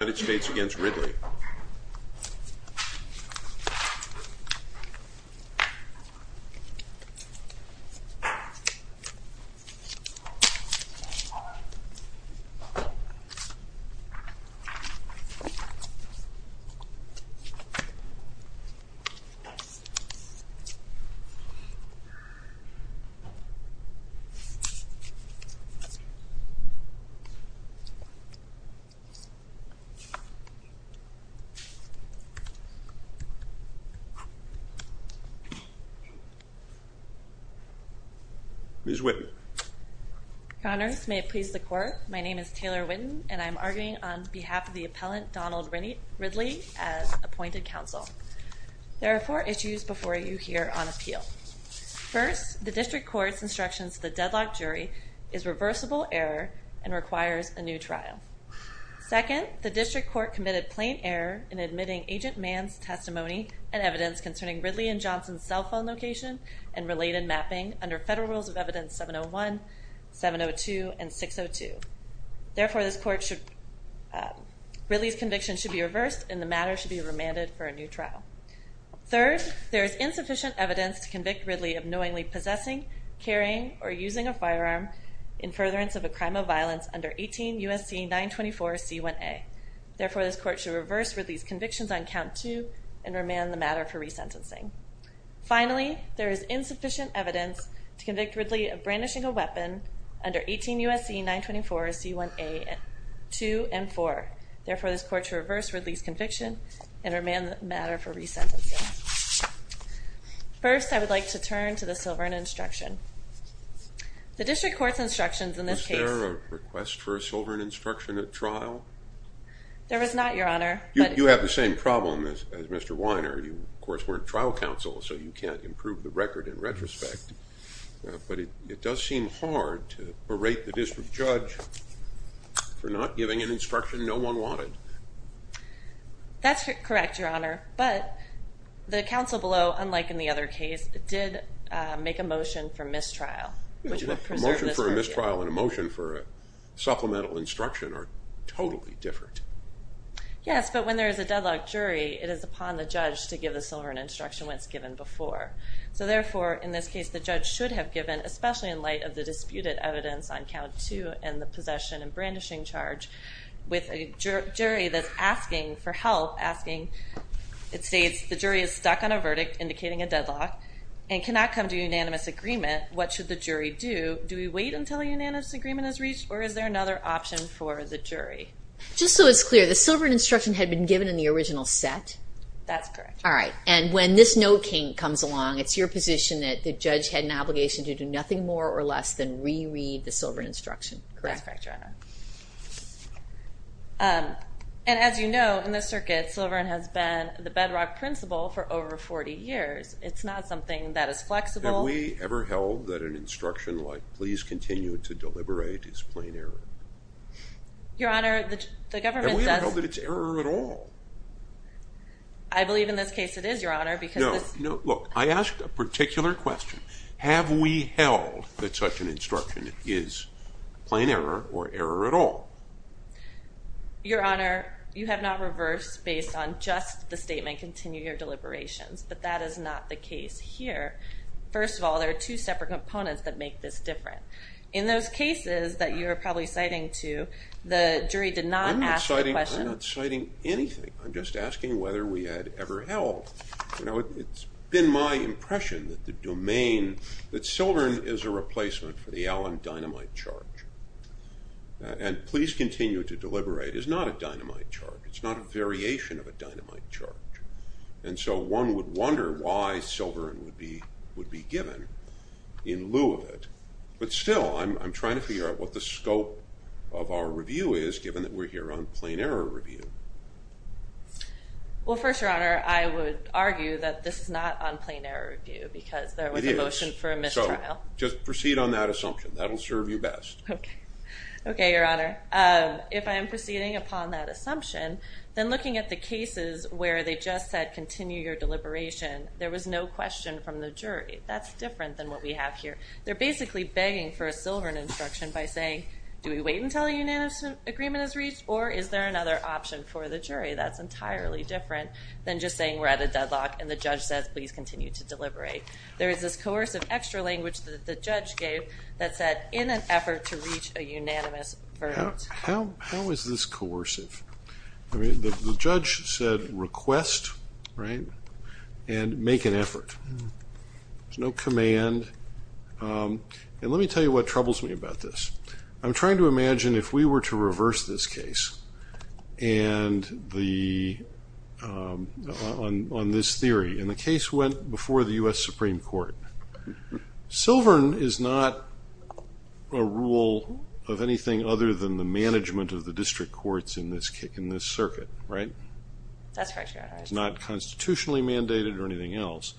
United States v. Ridley Ms. Whitten. Honors, may it please the court. My name is Taylor Whitten, and I'm arguing on behalf of the appellant Donald Ridley as appointed counsel. There are four issues before you here on appeal. First, the district court's instructions to the deadlock jury is reversible error and requires a new trial. Second, the district court committed plain error in admitting Agent Mann's testimony and evidence concerning Ridley and Johnson's cell phone location and related mapping under federal rules of evidence 701, 702, and 602. Therefore, Ridley's conviction should be reversed and the matter should be remanded for a new trial. Third, there is insufficient evidence to convict Ridley of knowingly possessing, carrying, or using a firearm in furtherance of a crime of violence under 18 U.S.C. 924 C1A. Therefore, this court should reverse Ridley's convictions on count two and remand the matter for resentencing. Finally, there is insufficient evidence to convict Ridley of brandishing a weapon under 18 U.S.C. 924 C1A 2 and 4. Therefore, this court should reverse Ridley's conviction and remand the matter for resentencing. First, I would like to turn to the Silverne instruction. The district court's instructions in this case... Was there a request for a Silverne instruction at trial? There was not, Your Honor, but... You have the same problem as Mr. Weiner. You, of course, weren't trial counsel, so you can't improve the record in retrospect. But it does seem hard to berate the district judge for not giving an instruction no one wanted. That's correct, Your Honor, but the counsel below, unlike in the other case, did make a motion for mistrial. A motion for mistrial and a motion for supplemental instruction are totally different. Yes, but when there is a deadlocked jury, it is upon the judge to give the Silverne instruction when it's given before. So, therefore, in this case, the judge should have given, especially in light of the disputed evidence on Count 2 and the possession and brandishing charge, with a jury that's asking for help, asking... It states the jury is stuck on a verdict indicating a deadlock and cannot come to unanimous agreement. What should the jury do? Do we wait until a unanimous agreement is reached, or is there another option for the jury? Just so it's clear, the Silverne instruction had been given in the original set? That's correct. All right, and when this note comes along, it's your position that the judge had an obligation to do nothing more or less than reread the Silverne instruction, correct? That's correct, Your Honor. And as you know, in this circuit, Silverne has been the bedrock principle for over 40 years. It's not something that is flexible. Have we ever held that an instruction like, please continue to deliberate, is plain error? Your Honor, the government does... Have we ever held that it's error at all? I believe in this case it is, Your Honor, because... No, no, look, I asked a particular question. Have we held that such an instruction is plain error or error at all? Your Honor, you have not reversed based on just the statement, continue your deliberations, but that is not the case here. First of all, there are two separate components that make this different. In those cases that you are probably citing to, the jury did not ask the question... I'm not citing anything. I'm just asking whether we had ever held. You know, it's been my impression that the domain, that Silverne is a replacement for the Allen dynamite charge. And please continue to deliberate is not a dynamite charge. It's not a variation of a dynamite charge. And so one would wonder why Silverne would be given in lieu of it. But still, I'm trying to figure out what the scope of our review is given that we're here on plain error review. Well, first, Your Honor, I would argue that this is not on plain error review because there was a motion for a mistrial. So just proceed on that assumption. That will serve you best. Okay, Your Honor. If I am proceeding upon that assumption, then looking at the cases where they just said continue your deliberation, there was no question from the jury. That's different than what we have here. They're basically begging for a Silverne instruction by saying do we wait until a unanimous agreement is reached or is there another option for the jury? That's entirely different than just saying we're at a deadlock and the judge says please continue to deliberate. There is this coercive extra language that the judge gave that said in an effort to reach a unanimous verdict. How is this coercive? The judge said request, right, and make an effort. There's no command. And let me tell you what troubles me about this. I'm trying to imagine if we were to reverse this case on this theory and the case went before the U.S. Supreme Court. Silverne is not a rule of anything other than the management of the district courts in this circuit, right? That's correct, Your Honor. It's not constitutionally mandated or anything else,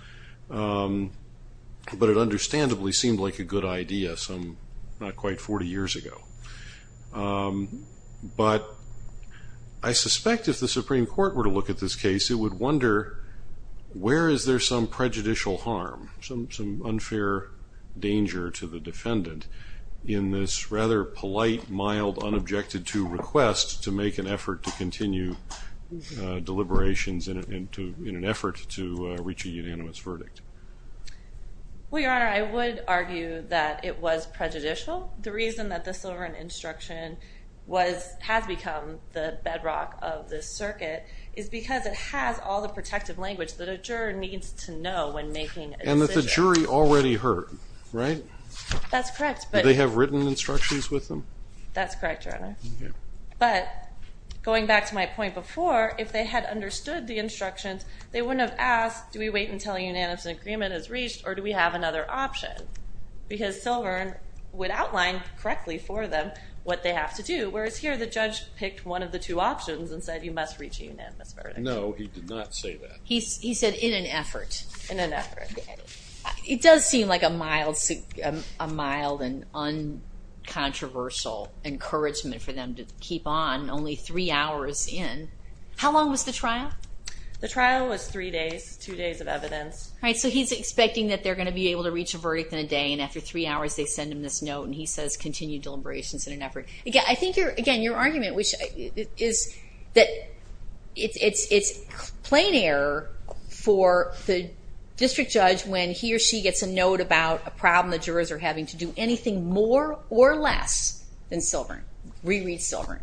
but it understandably seemed like a good idea some not quite 40 years ago. But I suspect if the Supreme Court were to look at this case, it would wonder where is there some prejudicial harm, some unfair danger to the defendant in this rather polite, mild, unobjected to request to make an effort to continue deliberations in an effort to reach a unanimous verdict. Well, Your Honor, I would argue that it was prejudicial. The reason that the Silverne instruction has become the bedrock of this circuit is because it has all the protective language that a juror needs to know when making a decision. And that the jury already heard, right? That's correct. Do they have written instructions with them? That's correct, Your Honor. But going back to my point before, if they had understood the instructions, they wouldn't have asked, do we wait until a unanimous agreement is reached or do we have another option? Because Silverne would outline correctly for them what they have to do, whereas here the judge picked one of the two options and said you must reach a unanimous verdict. No, he did not say that. He said in an effort. In an effort. It does seem like a mild and uncontroversial encouragement for them to keep on only three hours in. How long was the trial? The trial was three days, two days of evidence. All right, so he's expecting that they're going to be able to reach a verdict in a day, and after three hours they send him this note and he says continue deliberations in an effort. I think, again, your argument is that it's plain error for the district judge when he or she gets a note about a problem the jurors are having to do anything more or less than Silverne, reread Silverne.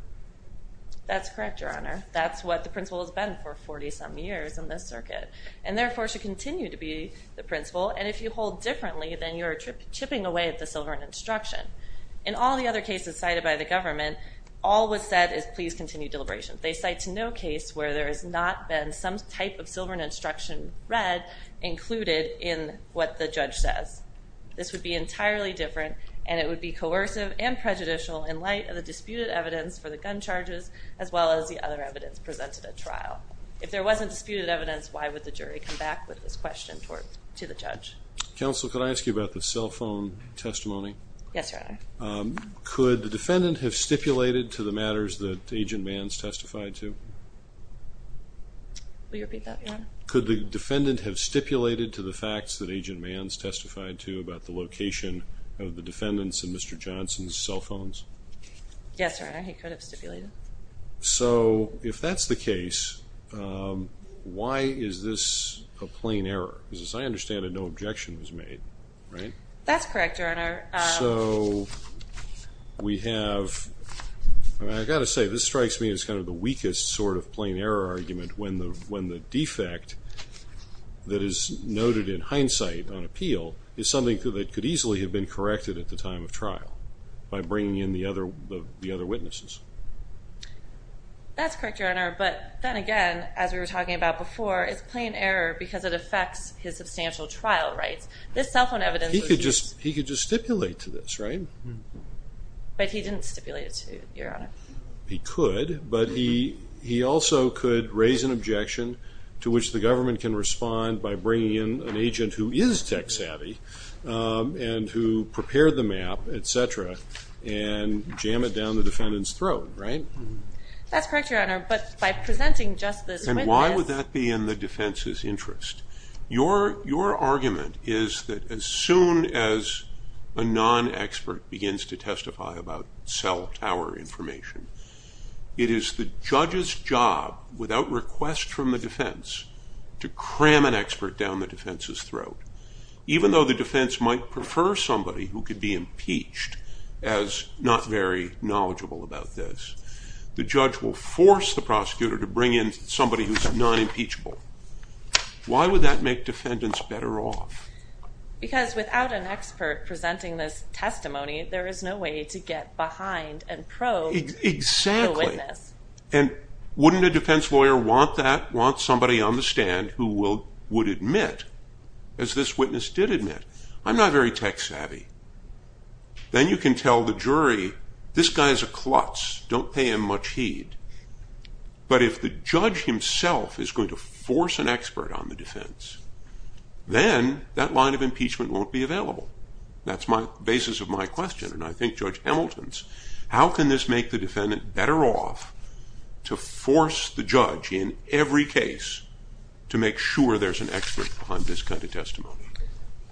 That's correct, Your Honor. That's what the principle has been for 40-some years in this circuit, and therefore should continue to be the principle, and if you hold differently, then you're chipping away at the Silverne instruction. In all the other cases cited by the government, all was said is please continue deliberations. They cite no case where there has not been some type of Silverne instruction read included in what the judge says. This would be entirely different, and it would be coercive and prejudicial in light of the disputed evidence for the gun charges as well as the other evidence presented at trial. If there wasn't disputed evidence, why would the jury come back with this question to the judge? Counsel, could I ask you about the cell phone testimony? Yes, Your Honor. Could the defendant have stipulated to the matters that Agent Mann's testified to? Will you repeat that, Your Honor? Could the defendant have stipulated to the facts that Agent Mann's testified to about the location of the defendant's and Mr. Johnson's cell phones? Yes, Your Honor. He could have stipulated. So if that's the case, why is this a plain error? Because as I understand it, no objection was made, right? That's correct, Your Honor. So we have, I've got to say, this strikes me as kind of the weakest sort of plain error argument when the defect that is noted in hindsight on appeal is something that could easily have been corrected at the time of trial by bringing in the other witnesses. That's correct, Your Honor, but then again, as we were talking about before, it's plain error because it affects his substantial trial rights. This cell phone evidence was used. He could just stipulate to this, right? But he didn't stipulate it to you, Your Honor. He could, but he also could raise an objection to which the government can respond by bringing in an agent who is tech savvy and who prepared the map, et cetera, and jam it down the defendant's throat, right? That's correct, Your Honor, but by presenting just this witness. And why would that be in the defense's interest? Your argument is that as soon as a non-expert begins to testify about cell tower information, it is the judge's job without request from the defense to cram an expert down the defense's throat. Even though the defense might prefer somebody who could be impeached as not very knowledgeable about this, the judge will force the prosecutor to bring in somebody who's non-impeachable. Why would that make defendants better off? Because without an expert presenting this testimony, there is no way to get behind and probe the witness. Exactly, and wouldn't a defense lawyer want that, want somebody on the stand who would admit, as this witness did admit, I'm not very tech savvy. Then you can tell the jury, this guy's a klutz, don't pay him much heed. But if the judge himself is going to force an expert on the defense, then that line of impeachment won't be available. That's the basis of my question, and I think Judge Hamilton's. How can this make the defendant better off to force the judge in every case to make sure there's an expert on this kind of testimony?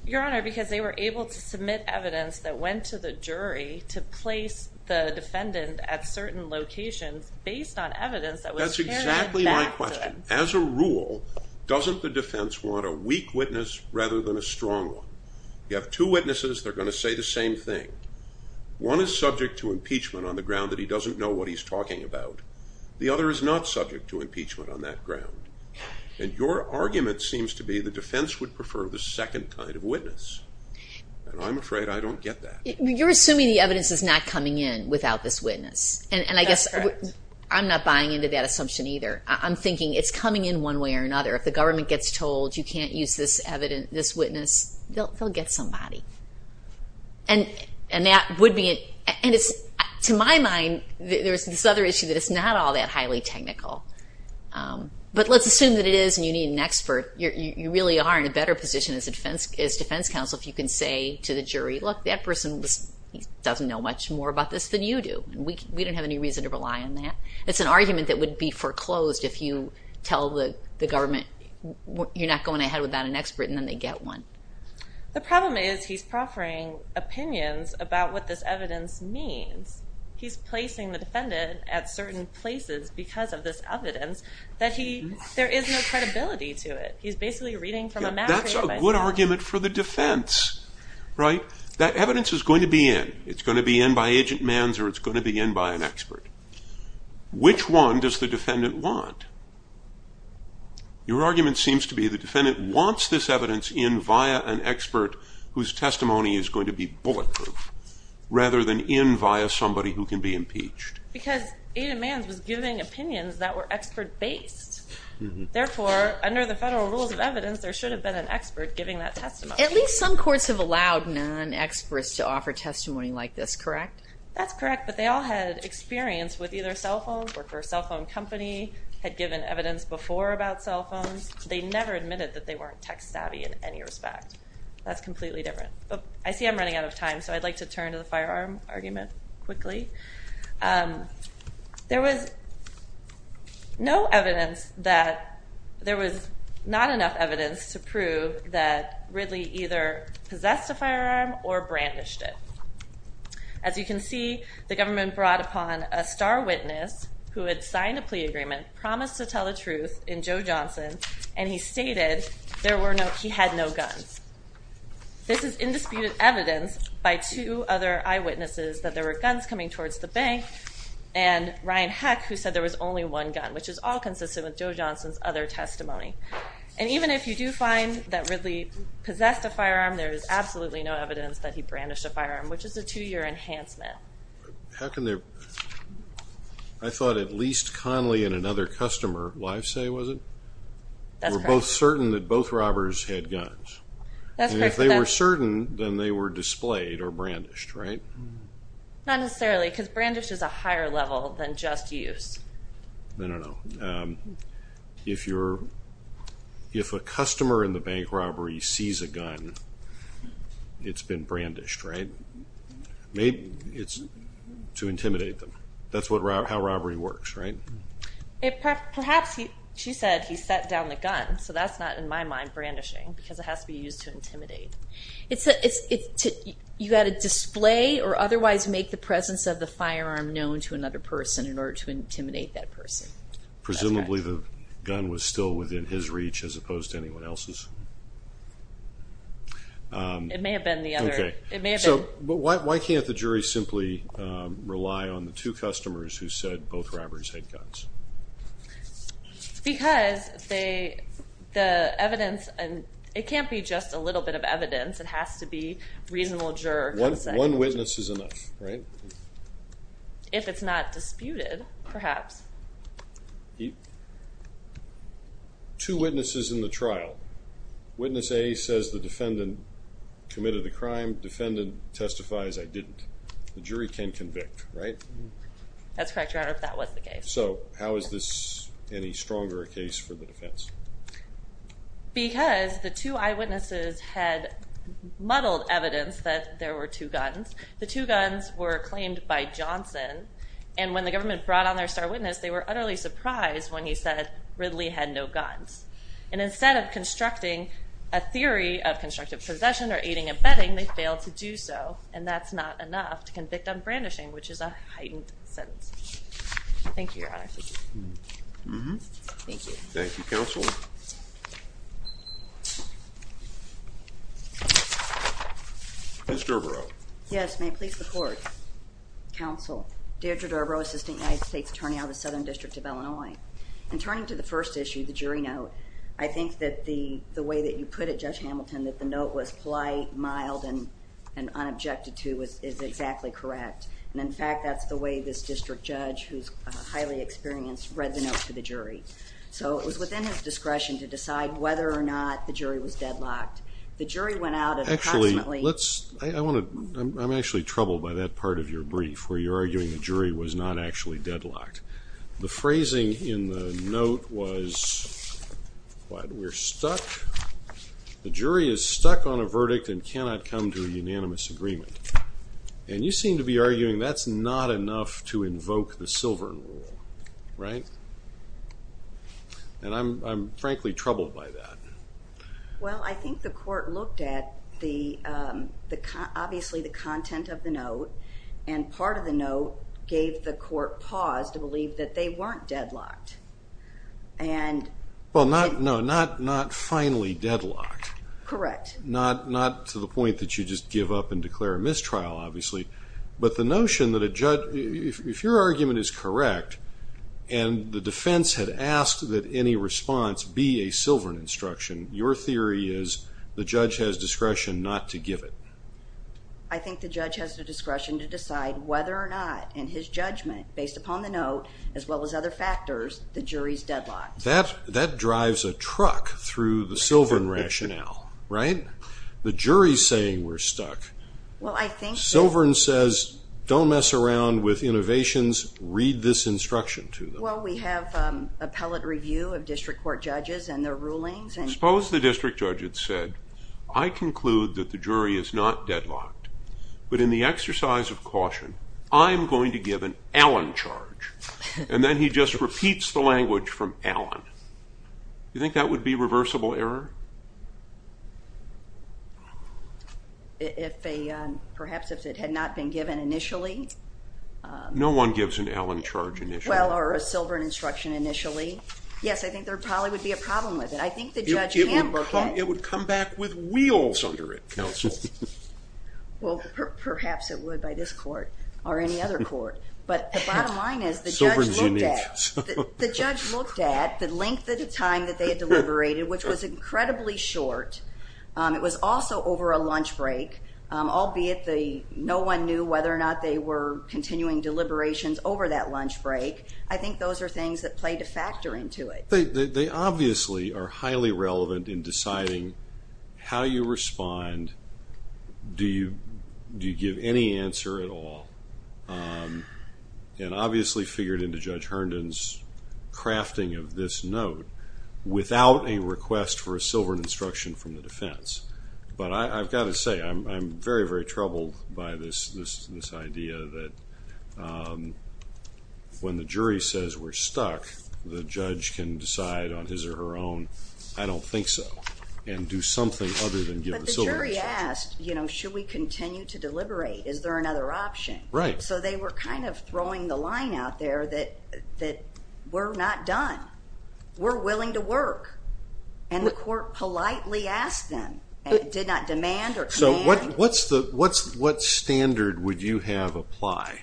Your Honor, because they were able to submit evidence that went to the jury to place the defendant at certain locations based on evidence that was carried back to them. That's exactly my question. As a rule, doesn't the defense want a weak witness rather than a strong one? You have two witnesses, they're going to say the same thing. One is subject to impeachment on the ground that he doesn't know what he's talking about. The other is not subject to impeachment on that ground. And your argument seems to be the defense would prefer the second kind of witness. And I'm afraid I don't get that. You're assuming the evidence is not coming in without this witness. That's correct. And I guess I'm not buying into that assumption either. I'm thinking it's coming in one way or another. If the government gets told you can't use this witness, they'll get somebody. And to my mind, there's this other issue that it's not all that highly technical. But let's assume that it is and you need an expert. You really are in a better position as defense counsel if you can say to the jury, look, that person doesn't know much more about this than you do. We don't have any reason to rely on that. It's an argument that would be foreclosed if you tell the government you're not going ahead without an expert and then they get one. The problem is he's proffering opinions about what this evidence means. He's placing the defendant at certain places because of this evidence that there is no credibility to it. He's basically reading from a map. That's a good argument for the defense. That evidence is going to be in. It's going to be in by Agent Manz or it's going to be in by an expert. Which one does the defendant want? Your argument seems to be the defendant wants this evidence in via an expert whose testimony is going to be bulletproof rather than in via somebody who can be impeached. Because Agent Manz was giving opinions that were expert-based. Therefore, under the federal rules of evidence, there should have been an expert giving that testimony. At least some courts have allowed non-experts to offer testimony like this, correct? That's correct, but they all had experience with either cell phones, worked for a cell phone company, had given evidence before about cell phones. They never admitted that they weren't tech-savvy in any respect. That's completely different. I see I'm running out of time, so I'd like to turn to the firearm argument quickly. There was no evidence that there was not enough evidence to prove that Ridley either possessed a firearm or brandished it. As you can see, the government brought upon a star witness who had signed a plea agreement, promised to tell the truth in Joe Johnson, and he stated he had no guns. This is indisputed evidence by two other eyewitnesses that there were guns coming towards the bank and Ryan Heck, who said there was only one gun, which is all consistent with Joe Johnson's other testimony. And even if you do find that Ridley possessed a firearm, there is absolutely no evidence that he brandished a firearm, which is a two-year enhancement. I thought at least Conley and another customer, Livesay was it? That's correct. They were certain that both robbers had guns. That's correct. And if they were certain, then they were displayed or brandished, right? Not necessarily because brandish is a higher level than just use. I don't know. If a customer in the bank robbery sees a gun, it's been brandished, right? Maybe it's to intimidate them. That's how robbery works, right? Perhaps she said he sat down the gun, so that's not, in my mind, brandishing because it has to be used to intimidate. You've got to display or otherwise make the presence of the firearm known to another person in order to intimidate that person. Presumably the gun was still within his reach as opposed to anyone else's. It may have been the other. Why can't the jury simply rely on the two customers who said both robbers had guns? Because the evidence, it can't be just a little bit of evidence. It has to be reasonable juror consent. One witness is enough, right? If it's not disputed, perhaps. Two witnesses in the trial. Witness A says the defendant committed the crime. Defendant testifies I didn't. The jury can convict, right? That's correct, Your Honor, if that was the case. How is this any stronger a case for the defense? Because the two eyewitnesses had muddled evidence that there were two guns. The two guns were claimed by Johnson. When the government brought on their star witness, they were utterly surprised when he said Ridley had no guns. And instead of constructing a theory of constructive possession or aiding and abetting, they failed to do so. And that's not enough to convict on brandishing, which is a heightened sentence. Thank you, Your Honor. Thank you. Thank you, Counsel. Ms. Derbaro. Yes, may I please report? Counsel, Deirdre Derbaro, Assistant United States Attorney out of the Southern District of Illinois. In turning to the first issue, the jury note, I think that the way that you put it, Judge Hamilton, that the note was polite, mild, and unobjected to is exactly correct. And, in fact, that's the way this district judge, who's highly experienced, read the note to the jury. So it was within his discretion to decide whether or not the jury was deadlocked. The jury went out at approximately— Actually, let's—I'm actually troubled by that part of your brief, where you're arguing the jury was not actually deadlocked. The phrasing in the note was, what, we're stuck? The jury is stuck on a verdict and cannot come to a unanimous agreement. And you seem to be arguing that's not enough to invoke the Silver Rule, right? And I'm, frankly, troubled by that. Well, I think the court looked at, obviously, the content of the note, and part of the note gave the court pause to believe that they weren't deadlocked. And— Well, no, not finally deadlocked. Correct. Not to the point that you just give up and declare a mistrial, obviously. But the notion that a judge—if your argument is correct, and the defense had asked that any response be a silver instruction, your theory is the judge has discretion not to give it. I think the judge has the discretion to decide whether or not, in his judgment, based upon the note, as well as other factors, the jury's deadlocked. That drives a truck through the Silvern rationale, right? The jury's saying we're stuck. Well, I think that— Silvern says, don't mess around with innovations, read this instruction to them. Well, we have appellate review of district court judges and their rulings, and— Suppose the district judge had said, I conclude that the jury is not deadlocked, but in the exercise of caution, I'm going to give an Allen charge. And then he just repeats the language from Allen. Do you think that would be reversible error? If they—perhaps if it had not been given initially? No one gives an Allen charge initially. Well, or a Silvern instruction initially. Yes, I think there probably would be a problem with it. I think the judge can book it. It would come back with wheels under it, counsel. Well, perhaps it would by this court, or any other court. But the bottom line is, the judge looked at— Silvern's unique. The judge looked at the length of time that they had deliberated, which was incredibly short. It was also over a lunch break, albeit no one knew whether or not they were continuing deliberations over that lunch break. I think those are things that play to factor into it. They obviously are highly relevant in deciding how you respond. Do you give any answer at all? And obviously figured into Judge Herndon's crafting of this note, without a request for a Silvern instruction from the defense. But I've got to say, I'm very, very troubled by this idea that when the jury says we're stuck, the judge can decide on his or her own, I don't think so, and do something other than give a Silvern instruction. But the jury asked, you know, should we continue to deliberate? Is there another option? Right. So they were kind of throwing the line out there that we're not done. We're willing to work. And the court politely asked them, and it did not demand or command. So what standard would you have apply?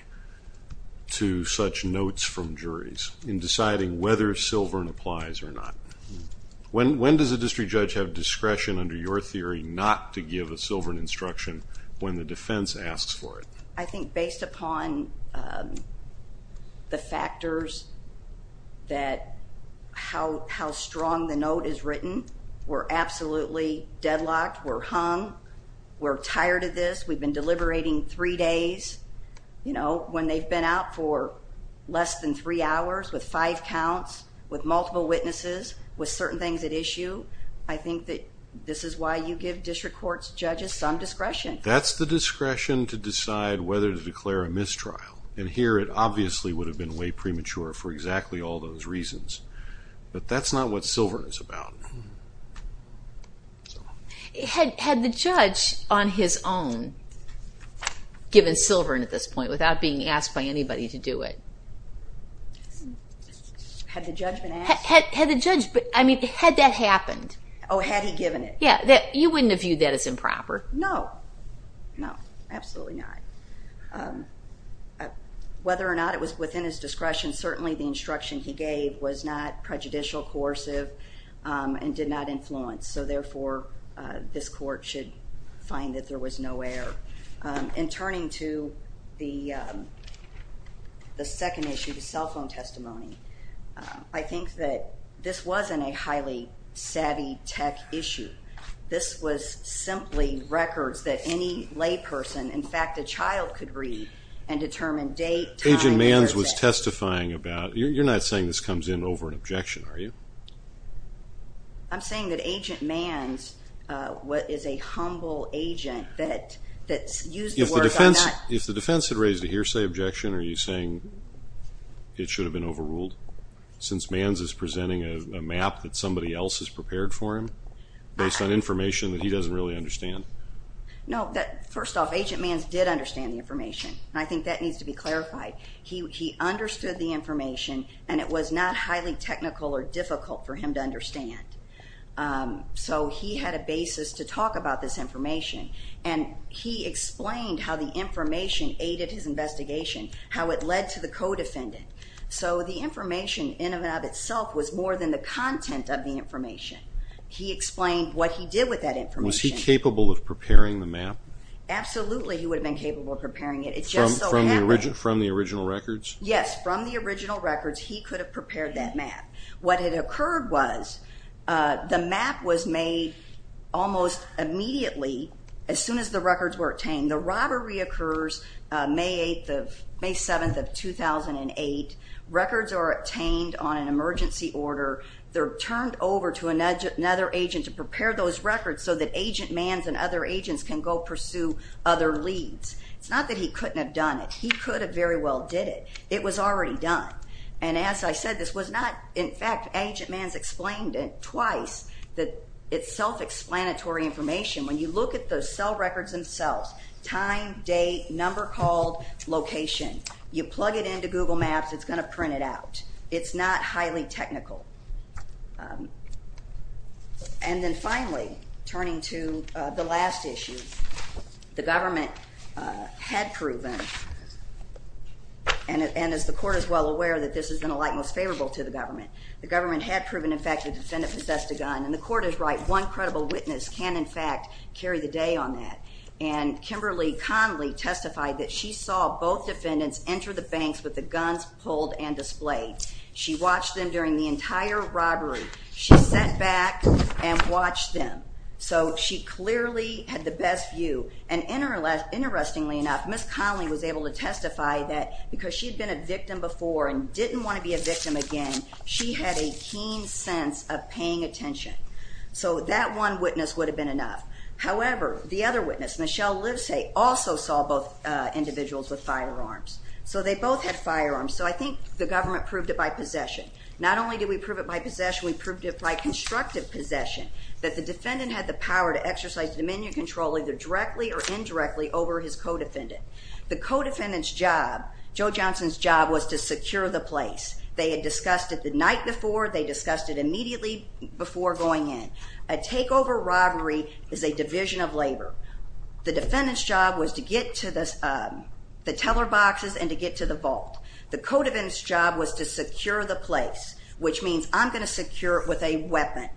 To such notes from juries in deciding whether Silvern applies or not? When does a district judge have discretion under your theory not to give a Silvern instruction when the defense asks for it? I think based upon the factors that how strong the note is written, we're absolutely deadlocked. We're hung. We're tired of this. We've been deliberating three days. You know, when they've been out for less than three hours with five counts, with multiple witnesses, with certain things at issue, I think that this is why you give district court judges some discretion. That's the discretion to decide whether to declare a mistrial. And here it obviously would have been way premature for exactly all those reasons. But that's not what Silvern is about. Had the judge on his own given Silvern at this point without being asked by anybody to do it? Had the judge been asked? Had the judge, I mean, had that happened? Oh, had he given it? Yeah, you wouldn't have viewed that as improper. No, no, absolutely not. Whether or not it was within his discretion, certainly the instruction he gave was not prejudicial, coercive. And did not influence. So, therefore, this court should find that there was no error. In turning to the second issue, the cell phone testimony, I think that this wasn't a highly savvy tech issue. This was simply records that any layperson, in fact a child, could read and determine date, time, person. Agent Manns was testifying about, you're not saying this comes in over an objection, are you? I'm saying that Agent Manns is a humble agent that used the word. If the defense had raised a hearsay objection, are you saying it should have been overruled? Since Manns is presenting a map that somebody else has prepared for him, based on information that he doesn't really understand? No, first off, Agent Manns did understand the information. I think that needs to be clarified. He understood the information and it was not highly technical or difficult for him to understand. So, he had a basis to talk about this information. And he explained how the information aided his investigation, how it led to the co-defendant. So, the information, in and of itself, was more than the content of the information. He explained what he did with that information. Was he capable of preparing the map? Absolutely, he would have been capable of preparing it. From the original records? Yes, from the original records, he could have prepared that map. What had occurred was, the map was made almost immediately, as soon as the records were obtained. The robbery occurs May 7th of 2008. Records are obtained on an emergency order. They're turned over to another agent to prepare those records so that Agent Manns and other agents can go pursue other leads. It's not that he couldn't have done it. He could have very well did it. It was already done. And as I said, this was not, in fact, Agent Manns explained it twice, that it's self-explanatory information. When you look at the cell records themselves, time, date, number called, location, you plug it into Google Maps, it's going to print it out. It's not highly technical. And then finally, turning to the last issue, the government had proven, and as the court is well aware, that this has been a light most favorable to the government, the government had proven, in fact, the defendant possessed a gun. And the court is right. One credible witness can, in fact, carry the day on that. And Kimberly Conley testified that she saw both defendants enter the banks with the guns pulled and displayed. She watched them during the entire robbery. She sat back and watched them. So she clearly had the best view. And interestingly enough, Ms. Conley was able to testify that because she had been a victim before and didn't want to be a victim again, she had a keen sense of paying attention. So that one witness would have been enough. However, the other witness, Michelle Livesay, also saw both individuals with firearms. So they both had firearms. So I think the government proved it by possession. Not only did we prove it by possession, we proved it by constructive possession, that the defendant had the power to exercise dominion control either directly or indirectly over his co-defendant. The co-defendant's job, Joe Johnson's job, was to secure the place. They had discussed it the night before. They discussed it immediately before going in. A takeover robbery is a division of labor. The defendant's job was to get to the teller boxes and to get to the vault. The co-defendant's job was to secure the place, which means I'm going to secure it with a weapon.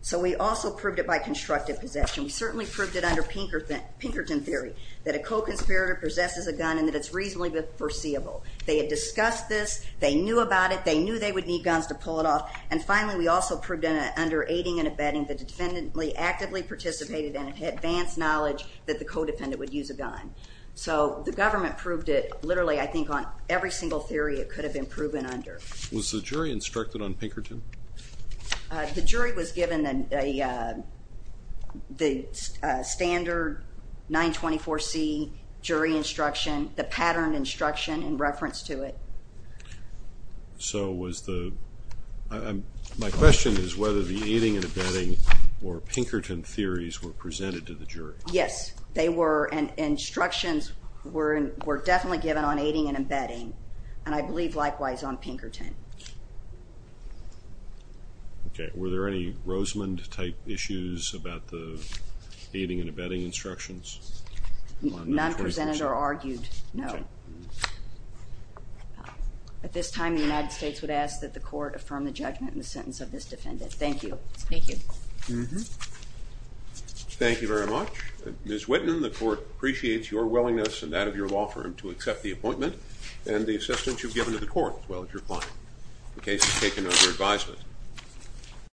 So we also proved it by constructive possession. We certainly proved it under Pinkerton theory, that a co-conspirator possesses a gun and that it's reasonably foreseeable. They had discussed this. They knew about it. They knew they would need guns to pull it off. And finally, we also proved it under aiding and abetting that the defendant actively participated in advance knowledge that the co-defendant would use a gun. So the government proved it literally, I think, on every single theory it could have been proven under. Was the jury instructed on Pinkerton? The jury was given the standard 924C jury instruction, the pattern instruction in reference to it. So was the... My question is whether the aiding and abetting or Pinkerton theories were presented to the jury. Yes, they were. And instructions were definitely given on aiding and abetting, and I believe likewise on Pinkerton. Okay. Were there any Rosemond-type issues about the aiding and abetting instructions? None presented or argued, no. At this time, the United States would ask that the court affirm the judgment in the sentence of this defendant. Thank you. Thank you. Thank you very much. Ms. Whitman, the court appreciates your willingness and that of your law firm to accept the appointment and the assistance you've given to the court as well as your client. The case is taken under advisement.